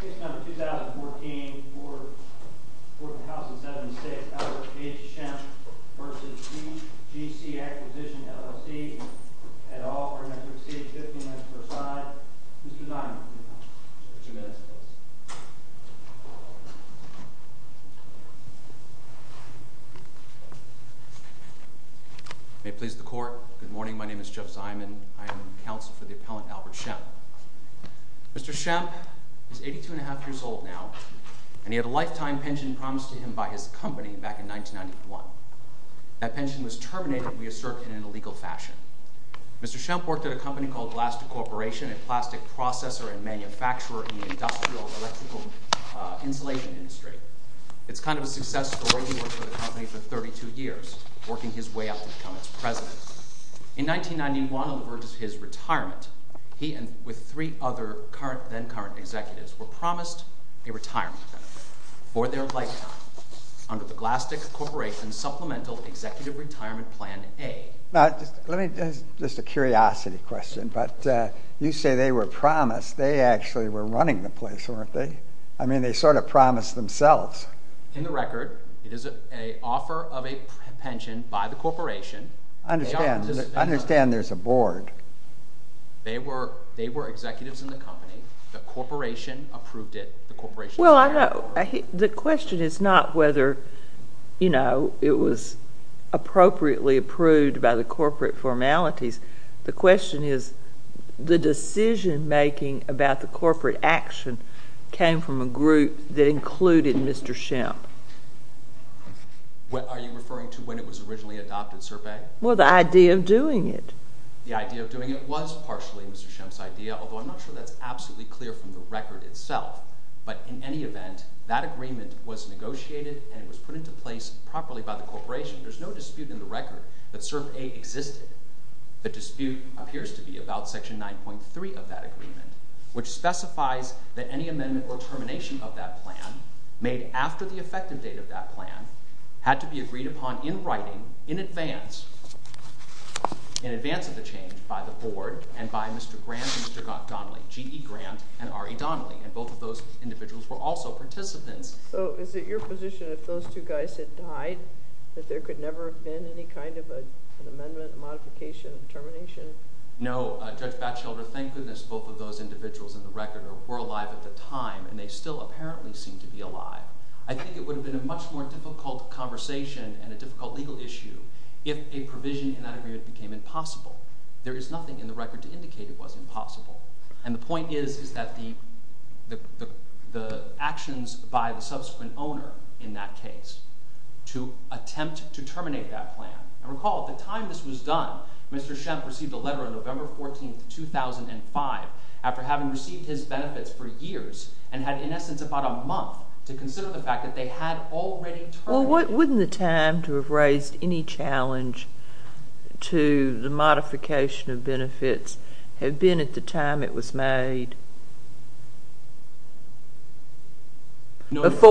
Case number 2014, Court of the House in 76, Albert H. Schempp v. GC Acquisition LLC, et al. We're going to proceed 15 minutes per side. Mr. Zyman, two minutes, please. May it please the Court, good morning. My name is Jeff Zyman. I am counsel for the appellant Albert Schempp. Mr. Schempp is 82 1⁄2 years old now, and he had a lifetime pension promised to him by his company back in 1991. That pension was terminated, we assert, in an illegal fashion. Mr. Schempp worked at a company called Glaston Corporation, a plastic processor and manufacturer in the industrial electrical insulation industry. It's kind of a success story. He worked for the company for 32 years, working his way up to become its president. In 1991, on the verge of his retirement, he and three other then-current executives were promised a retirement benefit for their lifetime under the Glaston Corporation Supplemental Executive Retirement Plan A. Now, just a curiosity question, but you say they were promised. They actually were running the place, weren't they? I mean, they sort of promised themselves. In the record, it is an offer of a pension by the corporation. I understand there's a board. They were executives in the company. The corporation approved it. Well, the question is not whether it was appropriately approved by the corporate formalities. The question is the decision-making about the corporate action came from a group that included Mr. Schempp. Are you referring to when it was originally adopted, SIRPA? Well, the idea of doing it. The idea of doing it was partially Mr. Schempp's idea, although I'm not sure that's absolutely clear from the record itself. But in any event, that agreement was negotiated and was put into place properly by the corporation. There's no dispute in the record that SIRPA existed. The dispute appears to be about Section 9.3 of that agreement, which specifies that any amendment or termination of that plan made after the effective date of that plan had to be agreed upon in writing in advance of the change by the board and by Mr. Grant and Mr. Donnelly, G.E. Grant and R.E. Donnelly. And both of those individuals were also participants. So is it your position if those two guys had died that there could never have been any kind of an amendment, a modification, a termination? No, Judge Batchelder. Thank goodness both of those individuals in the record were alive at the time, and they still apparently seem to be alive. I think it would have been a much more difficult conversation and a difficult legal issue if a provision in that agreement became impossible. There is nothing in the record to indicate it was impossible. And the point is that the actions by the subsequent owner in that case to attempt to terminate that plan – and recall at the time this was done, Mr. Shemp received a letter on November 14, 2005, after having received his benefits for years and had in essence about a month to consider the fact that they had already terminated. Well, wouldn't the time to have raised any challenge to the modification of benefits have been at the time it was made? No, Judge.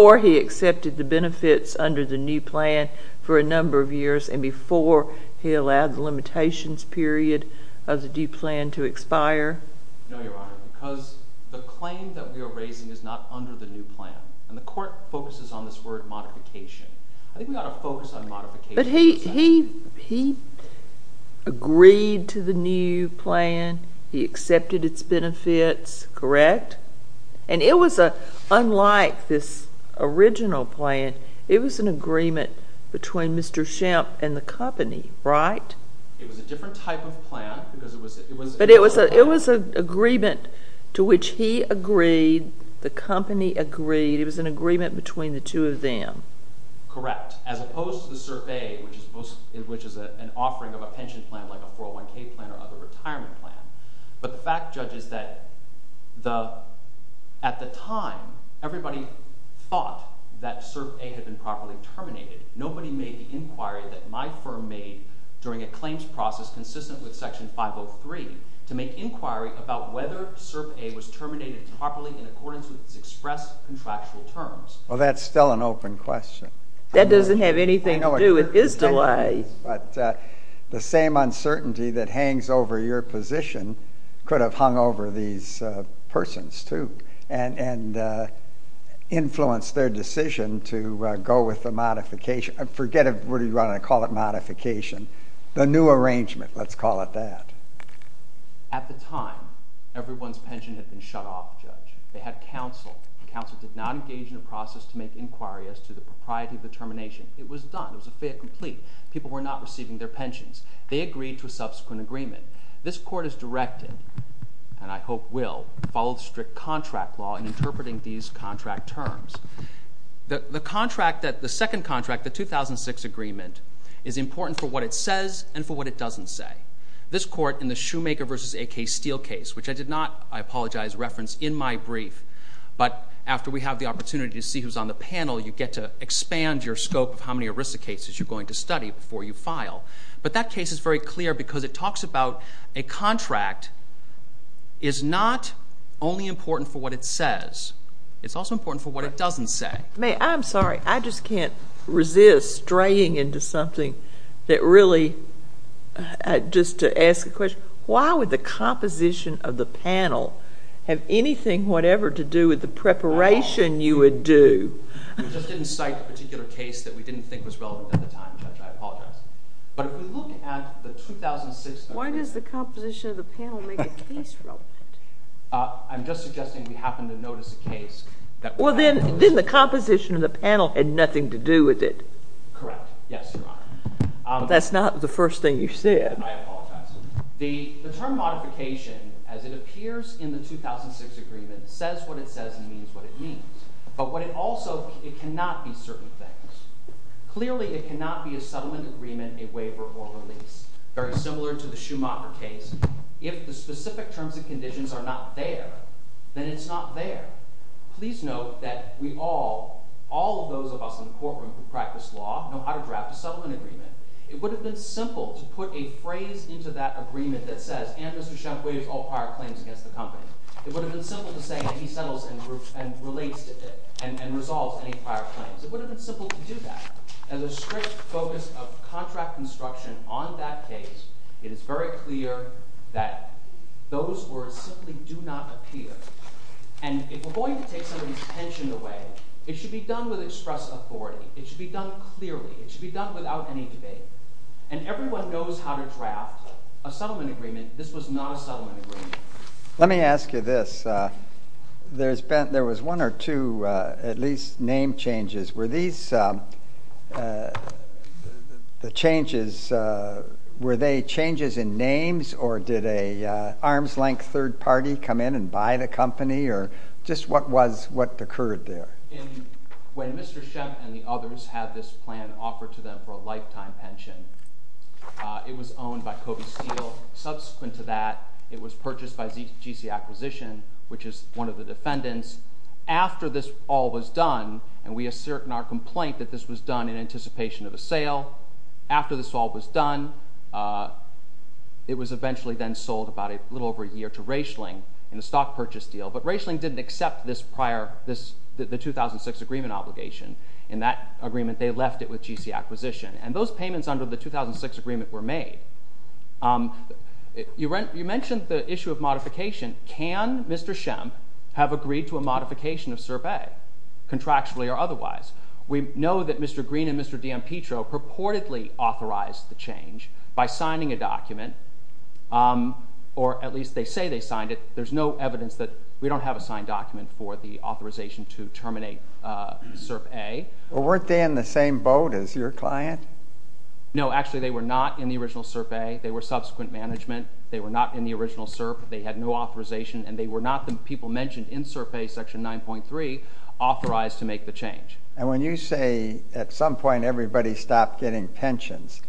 Or he allowed the limitations period of the due plan to expire? No, Your Honor, because the claim that we are raising is not under the new plan, and the court focuses on this word modification. I think we ought to focus on modification. But he agreed to the new plan. He accepted its benefits, correct? And it was unlike this original plan. It was an agreement between Mr. Shemp and the company, right? It was a different type of plan because it was— But it was an agreement to which he agreed, the company agreed. It was an agreement between the two of them. Correct, as opposed to the Cert A, which is an offering of a pension plan like a 401k plan or other retirement plan. But the fact, Judge, is that at the time, everybody thought that Cert A had been properly terminated. Nobody made the inquiry that my firm made during a claims process consistent with Section 503 to make inquiry about whether Cert A was terminated properly in accordance with its express contractual terms. Well, that's still an open question. That doesn't have anything to do with his delay. But the same uncertainty that hangs over your position could have hung over these persons, too, and influenced their decision to go with the modification. Forget it. What do you want to call it? Modification. The new arrangement, let's call it that. At the time, everyone's pension had been shut off, Judge. They had counsel. The counsel did not engage in a process to make inquiry as to the propriety of the termination. It was done. It was a fait accompli. People were not receiving their pensions. They agreed to a subsequent agreement. This Court has directed, and I hope will, to follow the strict contract law in interpreting these contract terms. The second contract, the 2006 agreement, is important for what it says and for what it doesn't say. This Court, in the Shoemaker v. A.K. Steel case, which I did not, I apologize, reference in my brief, but after we have the opportunity to see who's on the panel, you get to expand your scope of how many ERISA cases you're going to study before you file. But that case is very clear because it talks about a contract is not only important for what it says. It's also important for what it doesn't say. Ma'am, I'm sorry. I just can't resist straying into something that really, just to ask a question, why would the composition of the panel have anything whatever to do with the preparation you would do? We just didn't cite a particular case that we didn't think was relevant at the time, Judge. I apologize. But if we look at the 2006 agreement. Why does the composition of the panel make a case relevant? I'm just suggesting we happen to notice a case. Well, then the composition of the panel had nothing to do with it. Correct. Yes, Your Honor. That's not the first thing you said. I apologize. The term modification, as it appears in the 2006 agreement, says what it says and means what it means. But what it also – it cannot be certain things. Clearly, it cannot be a settlement agreement, a waiver, or a release. Very similar to the Schumacher case. If the specific terms and conditions are not there, then it's not there. Please note that we all, all of those of us in the courtroom who practice law, know how to draft a settlement agreement. It would have been simple to put a phrase into that agreement that says, and Mr. Schumpeter's all prior claims against the company. It would have been simple to say, and he settles and relates to it and resolves any prior claims. It would have been simple to do that. As a strict focus of contract instruction on that case, it is very clear that those words simply do not appear. And if we're going to take somebody's attention away, it should be done with express authority. It should be done clearly. It should be done without any debate. And everyone knows how to draft a settlement agreement. This was not a settlement agreement. Let me ask you this. There was one or two, at least, name changes. Were these the changes, were they changes in names, or did an arm's length third party come in and buy the company? Or just what was, what occurred there? When Mr. Schumpeter and the others had this plan offered to them for a lifetime pension, it was owned by Kobe Steel. Subsequent to that, it was purchased by GC Acquisition, which is one of the defendants. After this all was done, and we assert in our complaint that this was done in anticipation of a sale. After this all was done, it was eventually then sold about a little over a year to Raichling in a stock purchase deal. But Raichling didn't accept this prior, the 2006 agreement obligation. In that agreement, they left it with GC Acquisition. And those payments under the 2006 agreement were made. You mentioned the issue of modification. Can Mr. Schump have agreed to a modification of SIRP A, contractually or otherwise? We know that Mr. Green and Mr. D'Ampetro purportedly authorized the change by signing a document, or at least they say they signed it. There's no evidence that we don't have a signed document for the authorization to terminate SIRP A. Weren't they in the same boat as your client? No, actually they were not in the original SIRP A. They were subsequent management. They were not in the original SIRP. They had no authorization, and they were not the people mentioned in SIRP A section 9.3 authorized to make the change. And when you say at some point everybody stopped getting pensions,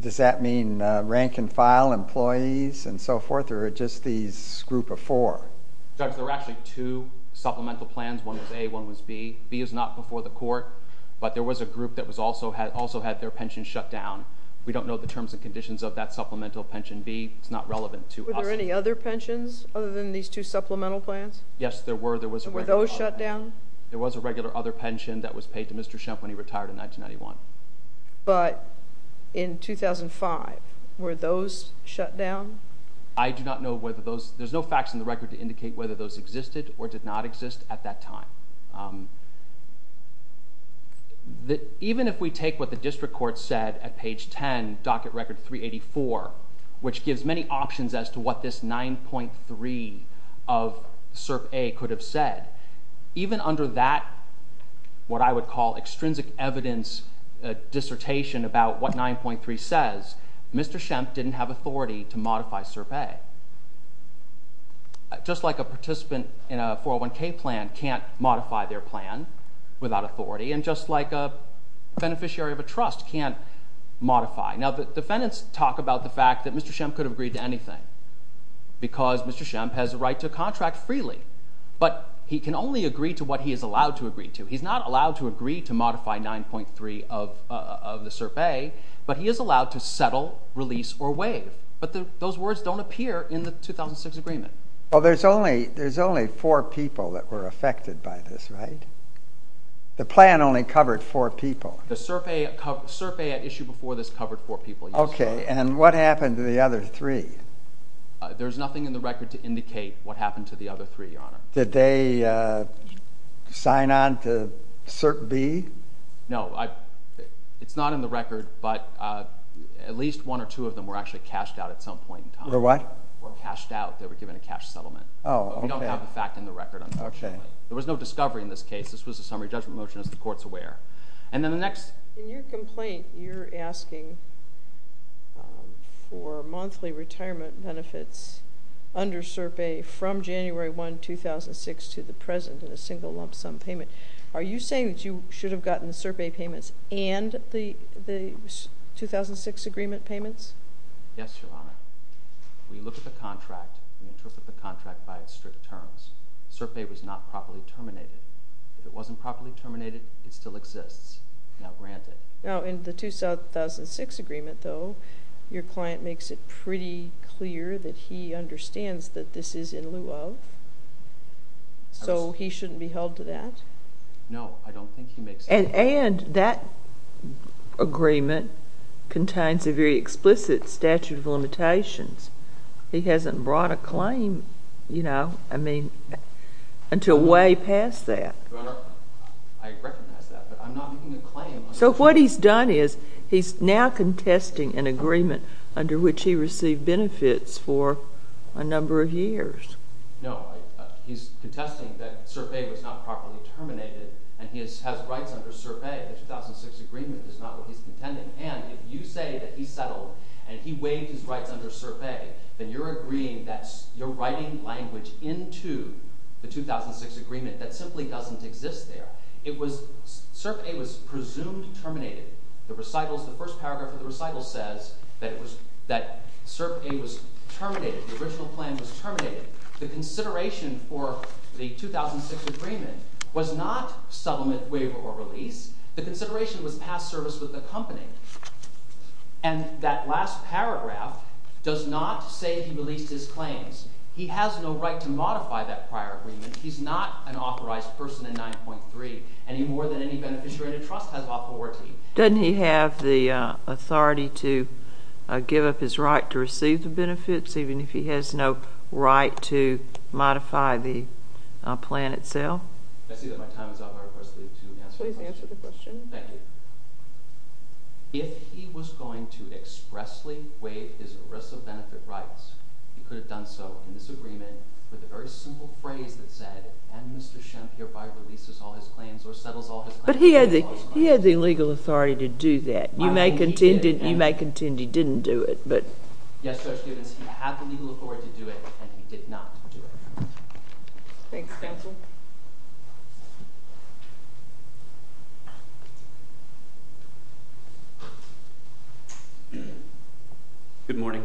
does that mean rank and file employees and so forth, or just these group of four? Judge, there were actually two supplemental plans. One was A, one was B. B is not before the court, but there was a group that also had their pension shut down. We don't know the terms and conditions of that supplemental pension B. It's not relevant to us. Were there any other pensions other than these two supplemental plans? Yes, there were. Were those shut down? There was a regular other pension that was paid to Mr. Schump when he retired in 1991. But in 2005, were those shut down? I do not know whether those—there's no facts in the record to indicate whether those existed or did not exist at that time. Even if we take what the district court said at page 10, docket record 384, which gives many options as to what this 9.3 of SIRP A could have said, even under that what I would call extrinsic evidence dissertation about what 9.3 says, Mr. Schump didn't have authority to modify SIRP A. Just like a participant in a 401k plan can't modify their plan without authority, and just like a beneficiary of a trust can't modify. Now, the defendants talk about the fact that Mr. Schump could have agreed to anything because Mr. Schump has a right to contract freely. But he can only agree to what he is allowed to agree to. He's not allowed to agree to modify 9.3 of the SIRP A, but he is allowed to settle, release, or waive. But those words don't appear in the 2006 agreement. Well, there's only four people that were affected by this, right? The plan only covered four people. The SIRP A at issue before this covered four people. Okay, and what happened to the other three? There's nothing in the record to indicate what happened to the other three, Your Honor. Did they sign on to SIRP B? No. It's not in the record, but at least one or two of them were actually cashed out at some point in time. Were what? Cashed out. They were given a cash settlement. Oh, okay. We don't have the fact in the record. Okay. There was no discovery in this case. This was a summary judgment motion, as the Court's aware. In your complaint, you're asking for monthly retirement benefits under SIRP A from January 1, 2006 to the present in a single lump sum payment. Are you saying that you should have gotten the SIRP A payments and the 2006 agreement payments? Yes, Your Honor. We look at the contract and interpret the contract by its strict terms. SIRP A was not properly terminated. If it wasn't properly terminated, it still exists. Now, grant it. Now, in the 2006 agreement, though, your client makes it pretty clear that he understands that this is in lieu of, so he shouldn't be held to that? No. I don't think he makes it clear. And that agreement contains a very explicit statute of limitations. He hasn't brought a claim, you know, I mean, until way past that. Your Honor, I recognize that, but I'm not making a claim. So what he's done is he's now contesting an agreement under which he received benefits for a number of years. No, he's contesting that SIRP A was not properly terminated, and he has rights under SIRP A. The 2006 agreement is not what he's contending. And if you say that he settled and he waived his rights under SIRP A, then you're agreeing that you're writing language into the 2006 agreement that simply doesn't exist there. SIRP A was presumed terminated. The first paragraph of the recital says that SIRP A was terminated. The original plan was terminated. The consideration for the 2006 agreement was not settlement, waiver, or release. The consideration was past service with the company. And that last paragraph does not say he released his claims. He has no right to modify that prior agreement. He's not an authorized person in 9.3, and he more than any beneficiary in a trust has authority. Doesn't he have the authority to give up his right to receive the benefits even if he has no right to modify the plan itself? If he was going to expressly waive his ERISA benefit rights, he could have done so in this agreement with a very simple phrase that said, and Mr. Shemp hereby releases all his claims or settles all his claims. But he had the legal authority to do that. You may contend he didn't do it. Yes, Judge Stevens, he had the legal authority to do it, and he did not do it. Thanks, counsel. Good morning.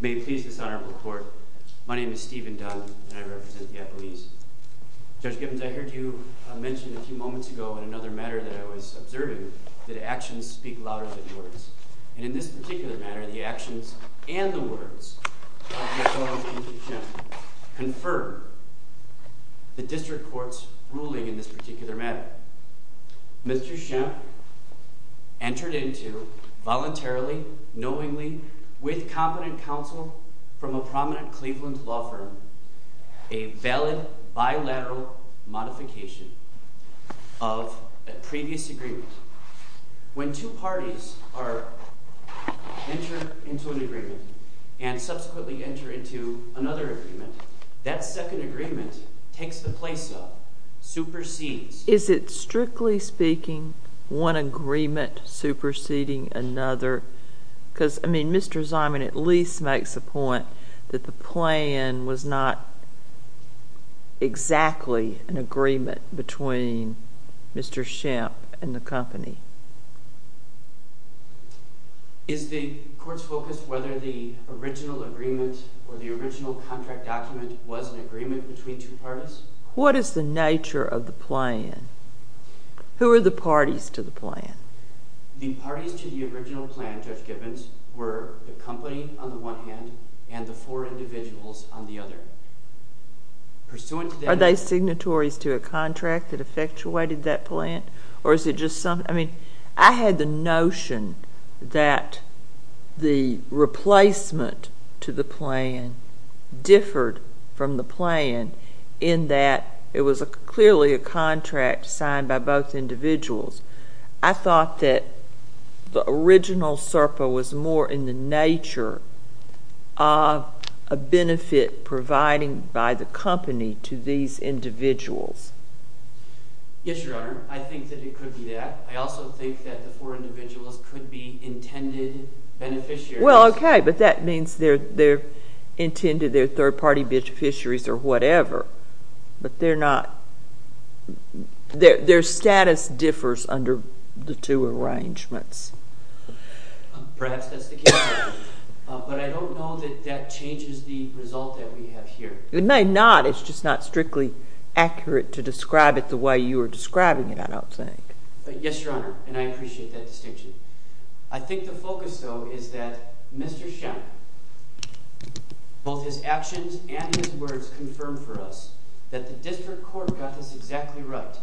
May it please this honorable court, my name is Stephen Dunn, and I represent the appellees. Judge Gibbons, I heard you mention a few moments ago in another matter that I was observing that actions speak louder than words. And in this particular matter, the actions and the words of Mr. Shemp confirm the district court's ruling in this particular matter. Mr. Shemp entered into voluntarily, knowingly, with competent counsel from a prominent Cleveland law firm, a valid bilateral modification of a previous agreement. When two parties enter into an agreement and subsequently enter into another agreement, that second agreement takes the place of, supersedes. Is it strictly speaking one agreement superseding another? Because, I mean, Mr. Zimon at least makes the point that the plan was not exactly an agreement between Mr. Shemp and the company. Is the court's focus whether the original agreement or the original contract document was an agreement between two parties? What is the nature of the plan? The parties to the original plan, Judge Gibbons, were the company on the one hand and the four individuals on the other. Are they signatories to a contract that effectuated that plan? Or is it just some, I mean, I had the notion that the replacement to the plan differed from the plan in that it was clearly a contract signed by both individuals. I thought that the original SERPA was more in the nature of a benefit provided by the company to these individuals. Yes, Your Honor, I think that it could be that. I also think that the four individuals could be intended beneficiaries. Well, okay, but that means they're intended, they're third-party beneficiaries or whatever. But they're not, their status differs under the two arrangements. Perhaps that's the case, but I don't know that that changes the result that we have here. It may not. It's just not strictly accurate to describe it the way you are describing it, I don't think. Yes, Your Honor, and I appreciate that distinction. I think the focus, though, is that Mr. Shepp, both his actions and his words confirm for us that the district court got this exactly right.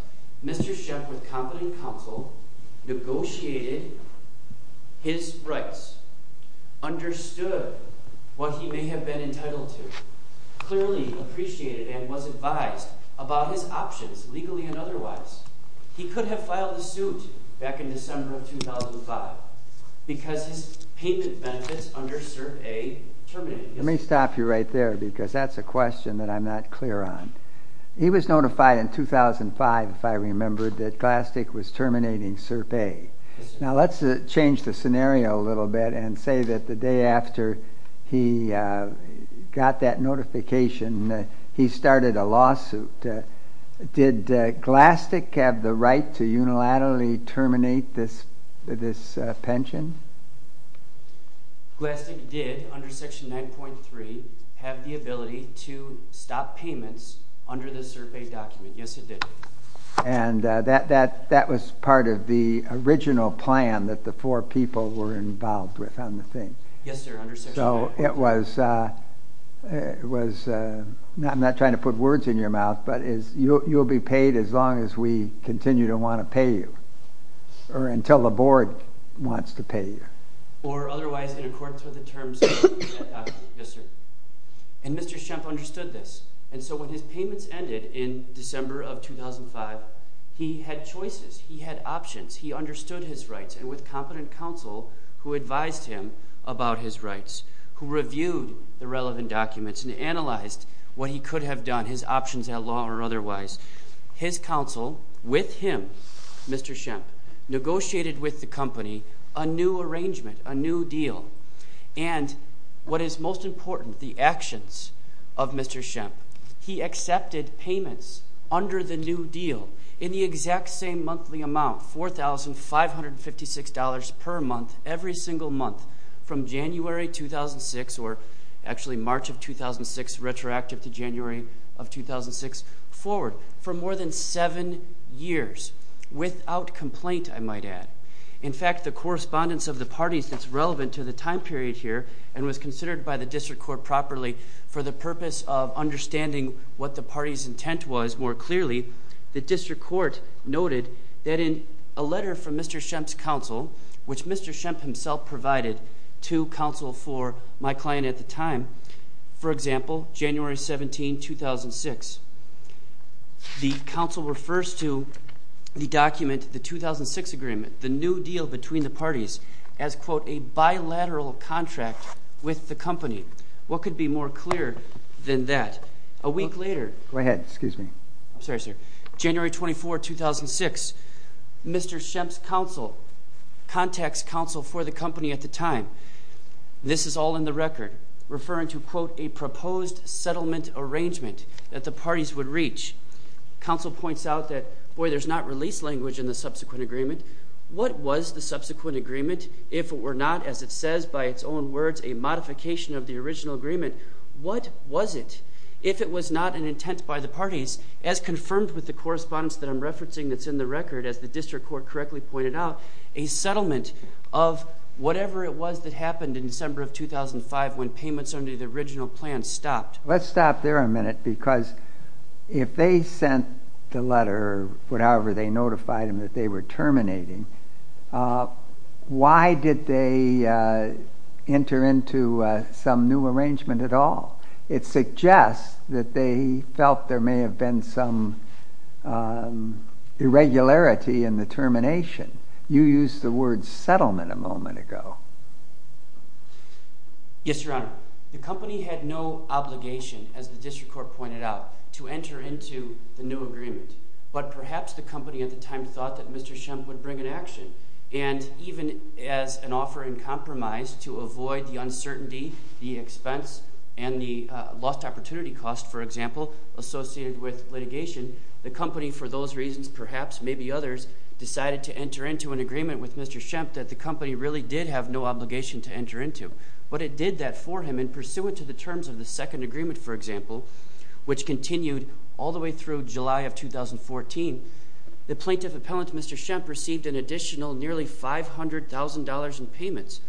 Mr. Shepp, with competent counsel, negotiated his rights, understood what he may have been entitled to, clearly appreciated and was advised about his options, legally and otherwise. He could have filed a suit back in December of 2005 because his payment benefits under SERPA terminated. Let me stop you right there because that's a question that I'm not clear on. He was notified in 2005, if I remember, that Glastick was terminating SERPA. Now, let's change the scenario a little bit and say that the day after he got that notification, he started a lawsuit. Did Glastick have the right to unilaterally terminate this pension? Glastick did, under Section 9.3, have the ability to stop payments under the SERPA document. Yes, it did. And that was part of the original plan that the four people were involved with on the thing. Yes, sir, under Section 9. I'm not trying to put words in your mouth, but you'll be paid as long as we continue to want to pay you or until the board wants to pay you. Or otherwise in accordance with the terms of the SERPA document. Yes, sir. And Mr. Shepp understood this. And so when his payments ended in December of 2005, he had choices. He had options. He understood his rights and with competent counsel who advised him about his rights, who reviewed the relevant documents and analyzed what he could have done, his options at law or otherwise, his counsel with him, Mr. Shepp, negotiated with the company a new arrangement, a new deal. And what is most important, the actions of Mr. Shepp. He accepted payments under the new deal in the exact same monthly amount, $4,556 per month, every single month from January 2006 or actually March of 2006, retroactive to January of 2006, forward for more than seven years without complaint, I might add. In fact, the correspondence of the parties that's relevant to the time period here and was considered by the district court properly for the purpose of understanding what the party's intent was more clearly, the district court noted that in a letter from Mr. Shepp's counsel, which Mr. Shepp himself provided to counsel for my client at the time, for example, January 17, 2006, the counsel refers to the document, the 2006 agreement, the new deal between the parties, as, quote, a bilateral contract with the company. What could be more clear than that? A week later... Go ahead. Excuse me. I'm sorry, sir. January 24, 2006, Mr. Shepp's counsel contacts counsel for the company at the time. This is all in the record, referring to, quote, a proposed settlement arrangement that the parties would reach. Counsel points out that, boy, there's not release language in the subsequent agreement. What was the subsequent agreement? If it were not, as it says by its own words, a modification of the original agreement, what was it? If it was not an intent by the parties, as confirmed with the correspondence that I'm referencing that's in the record, as the district court correctly pointed out, a settlement of whatever it was that happened in December of 2005 when payments under the original plan stopped. Let's stop there a minute because if they sent the letter, however they notified him that they were terminating, why did they enter into some new arrangement at all? It suggests that they felt there may have been some irregularity in the termination. You used the word settlement a moment ago. Yes, Your Honor. The company had no obligation, as the district court pointed out, to enter into the new agreement. But perhaps the company at the time thought that Mr. Shemp would bring an action. And even as an offer in compromise to avoid the uncertainty, the expense, and the lost opportunity cost, for example, associated with litigation, the company, for those reasons perhaps, maybe others, decided to enter into an agreement with Mr. Shemp that the company really did have no obligation to enter into. But it did that for him in pursuance of the terms of the second agreement, for example, which continued all the way through July of 2014. The plaintiff appellant, Mr. Shemp, received an additional nearly $500,000 in payments.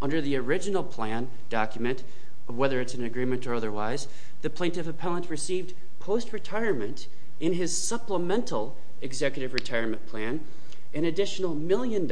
Under the original plan document, whether it's an agreement or otherwise, the plaintiff appellant received post-retirement, in his supplemental executive retirement plan, an additional $1 million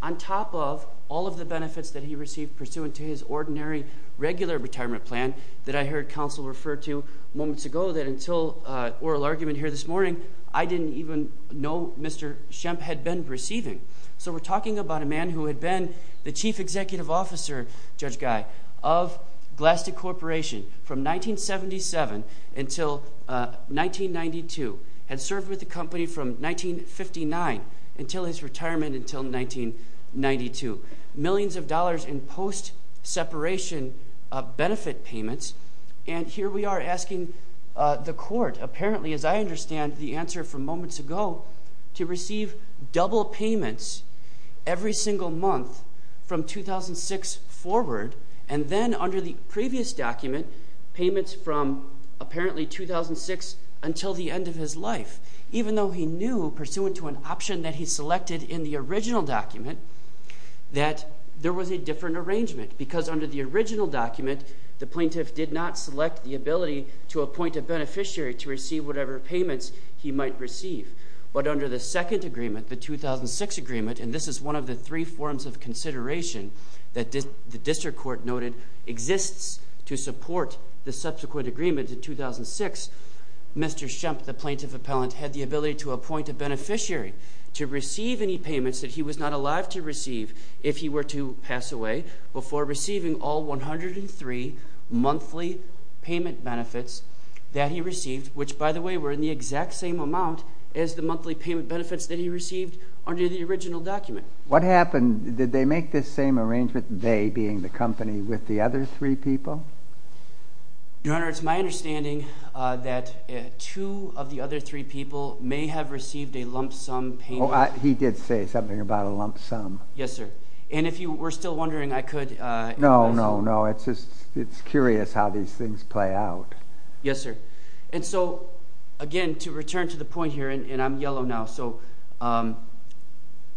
on top of all of the benefits that he received pursuant to his ordinary regular retirement plan that I heard counsel refer to moments ago that until oral argument here this morning, I didn't even know Mr. Shemp had been receiving. So we're talking about a man who had been the chief executive officer, Judge Guy, of Glaston Corporation from 1977 until 1992, had served with the company from 1959 until his retirement until 1992, millions of dollars in post-separation benefit payments. And here we are asking the court, apparently, as I understand the answer from moments ago, to receive double payments every single month from 2006 forward, and then under the previous document, payments from apparently 2006 until the end of his life, even though he knew, pursuant to an option that he selected in the original document, that there was a different arrangement because under the original document, the plaintiff did not select the ability to appoint a beneficiary to receive whatever payments he might receive. But under the second agreement, the 2006 agreement, and this is one of the three forms of consideration that the district court noted exists to support the subsequent agreement in 2006, Mr. Shemp, the plaintiff appellant, had the ability to appoint a beneficiary to receive any payments that he was not allowed to receive if he were to pass away before receiving all 103 monthly payment benefits that he received, which, by the way, were in the exact same amount as the monthly payment benefits that he received under the original document. What happened? Did they make this same arrangement, they being the company, with the other three people? Your Honor, it's my understanding that two of the other three people may have received a lump sum payment. He did say something about a lump sum. Yes, sir. And if you were still wondering, I could… No, no, no. It's just curious how these things play out. Yes, sir. And so, again, to return to the point here, and I'm yellow now, so I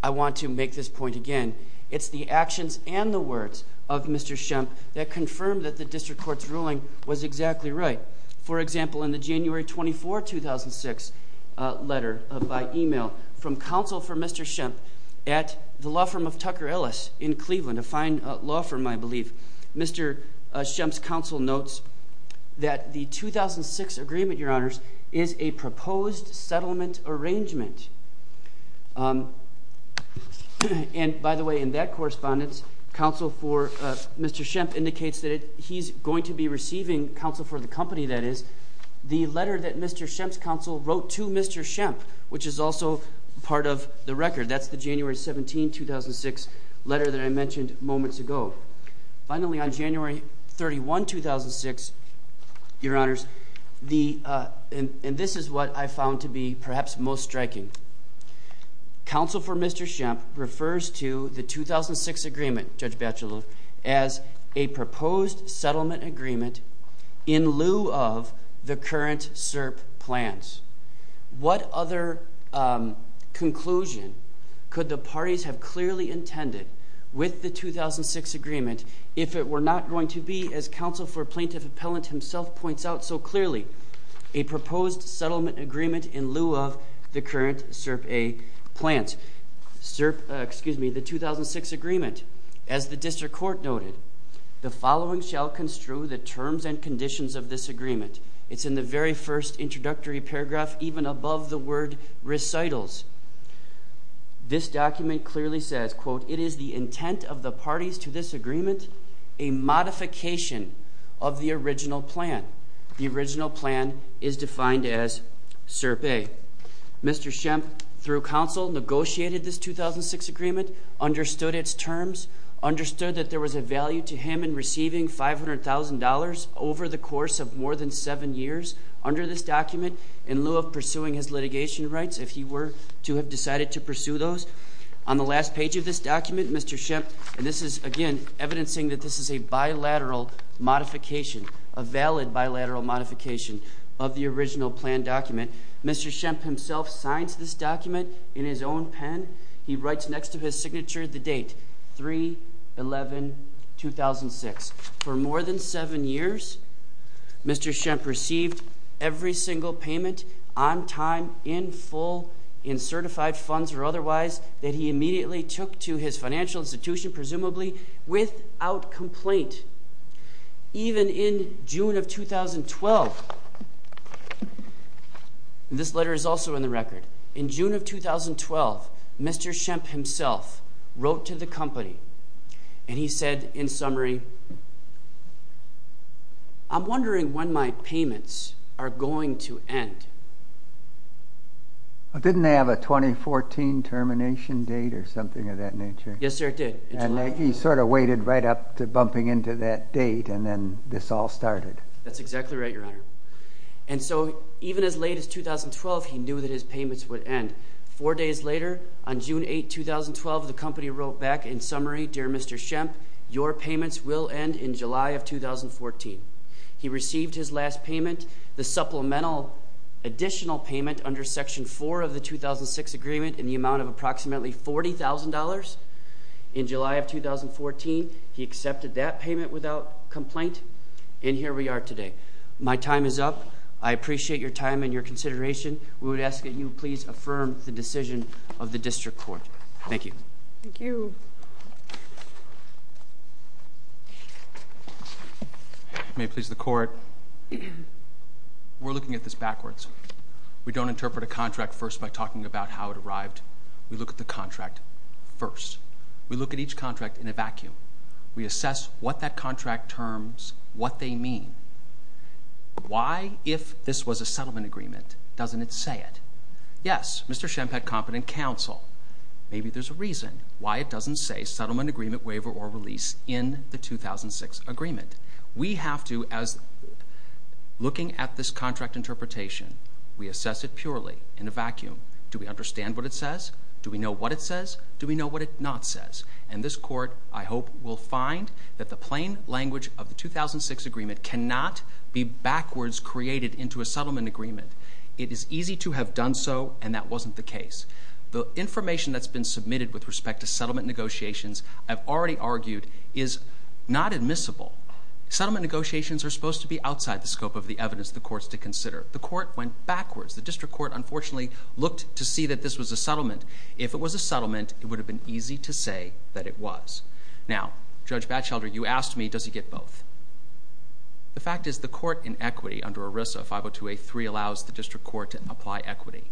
want to make this point again. It's the actions and the words of Mr. Shemp that confirmed that the district court's ruling was exactly right. For example, in the January 24, 2006, letter by email from counsel for Mr. Shemp at the law firm of Tucker Ellis in Cleveland, a fine law firm, I believe, Mr. Shemp's counsel notes that the 2006 agreement, Your Honors, is a proposed settlement arrangement. And, by the way, in that correspondence, counsel for Mr. Shemp indicates that he's going to be receiving, counsel for the company, that is, the letter that Mr. Shemp's counsel wrote to Mr. Shemp, which is also part of the record. That's the January 17, 2006 letter that I mentioned moments ago. Finally, on January 31, 2006, Your Honors, and this is what I found to be perhaps most striking, counsel for Mr. Shemp refers to the 2006 agreement, Judge Batchelor, as a proposed settlement agreement in lieu of the current SERP plans. What other conclusion could the parties have clearly intended with the 2006 agreement if it were not going to be, as counsel for Plaintiff Appellant himself points out so clearly, a proposed settlement agreement in lieu of the current SERP A plans? SERP, excuse me, the 2006 agreement, as the district court noted, the following shall construe the terms and conditions of this agreement. It's in the very first introductory paragraph, even above the word recitals. This document clearly says, quote, it is the intent of the parties to this agreement, a modification of the original plan. The original plan is defined as SERP A. Mr. Shemp, through counsel, negotiated this 2006 agreement, understood its terms, understood that there was a value to him in receiving $500,000 over the course of more than seven years under this document in lieu of pursuing his litigation rights if he were to have decided to pursue those. On the last page of this document, Mr. Shemp, and this is, again, evidencing that this is a bilateral modification, a valid bilateral modification of the original plan document. Mr. Shemp himself signs this document in his own pen. He writes next to his signature the date, 3-11-2006. For more than seven years, Mr. Shemp received every single payment on time, in full, in certified funds or otherwise that he immediately took to his financial institution, presumably without complaint. Even in June of 2012, this letter is also in the record, in June of 2012, Mr. Shemp himself wrote to the company and he said, in summary, I'm wondering when my payments are going to end. Didn't they have a 2014 termination date or something of that nature? Yes, sir, it did. And he sort of waited right up to bumping into that date and then this all started. That's exactly right, Your Honor. And so even as late as 2012, he knew that his payments would end. Four days later, on June 8, 2012, the company wrote back, in summary, Dear Mr. Shemp, your payments will end in July of 2014. He received his last payment, the supplemental additional payment under Section 4 of the 2006 agreement in the amount of approximately $40,000 in July of 2014. He accepted that payment without complaint and here we are today. My time is up. I appreciate your time and your consideration. We would ask that you please affirm the decision of the District Court. Thank you. Thank you. May it please the Court, we're looking at this backwards. We don't interpret a contract first by talking about how it arrived. We look at the contract first. We look at each contract in a vacuum. We assess what that contract terms, what they mean. Why, if this was a settlement agreement, doesn't it say it? Yes, Mr. Shemp had competent counsel. Maybe there's a reason why it doesn't say settlement agreement, waiver, or release in the 2006 agreement. We have to, as looking at this contract interpretation, we assess it purely in a vacuum. Do we understand what it says? Do we know what it says? Do we know what it not says? And this Court, I hope, will find that the plain language of the 2006 agreement cannot be backwards created into a settlement agreement. It is easy to have done so and that wasn't the case. The information that's been submitted with respect to settlement negotiations, I've already argued, is not admissible. Settlement negotiations are supposed to be outside the scope of the evidence the courts to consider. The court went backwards. The district court, unfortunately, looked to see that this was a settlement. If it was a settlement, it would have been easy to say that it was. Now, Judge Batchelder, you asked me, does he get both? The fact is the court in equity under ERISA 50283 allows the district court to apply equity.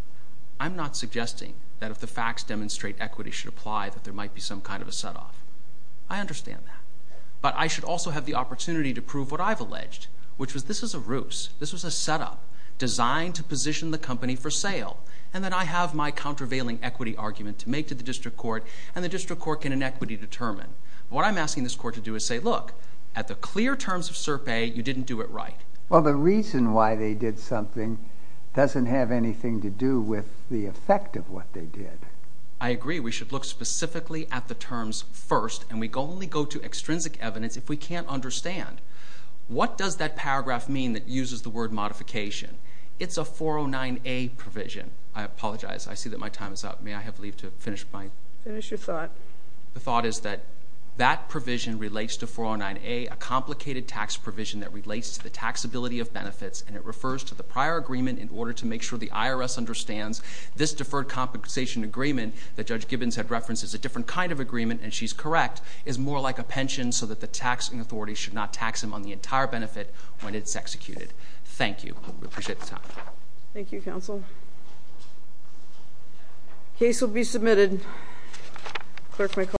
I'm not suggesting that if the facts demonstrate equity should apply, that there might be some kind of a set-off. I understand that. But I should also have the opportunity to prove what I've alleged, which was this is a ruse. This was a set-up designed to position the company for sale. And then I have my countervailing equity argument to make to the district court, and the district court can in equity determine. What I'm asking this court to do is say, look, at the clear terms of SERPA, you didn't do it right. Well, the reason why they did something doesn't have anything to do with the effect of what they did. I agree. We should look specifically at the terms first, and we only go to extrinsic evidence if we can't understand. What does that paragraph mean that uses the word modification? It's a 409A provision. I apologize. I see that my time is up. May I have leave to finish my? Finish your thought. The thought is that that provision relates to 409A, a complicated tax provision that relates to the taxability of benefits, and it refers to the prior agreement in order to make sure the IRS understands this deferred compensation agreement that Judge Gibbons had referenced is a different kind of agreement, and she's correct, is more like a pension so that the taxing authority should not tax them on the entire benefit when it's executed. Thank you. I appreciate the time. Thank you, counsel. Case will be submitted. Clerk may call the roll.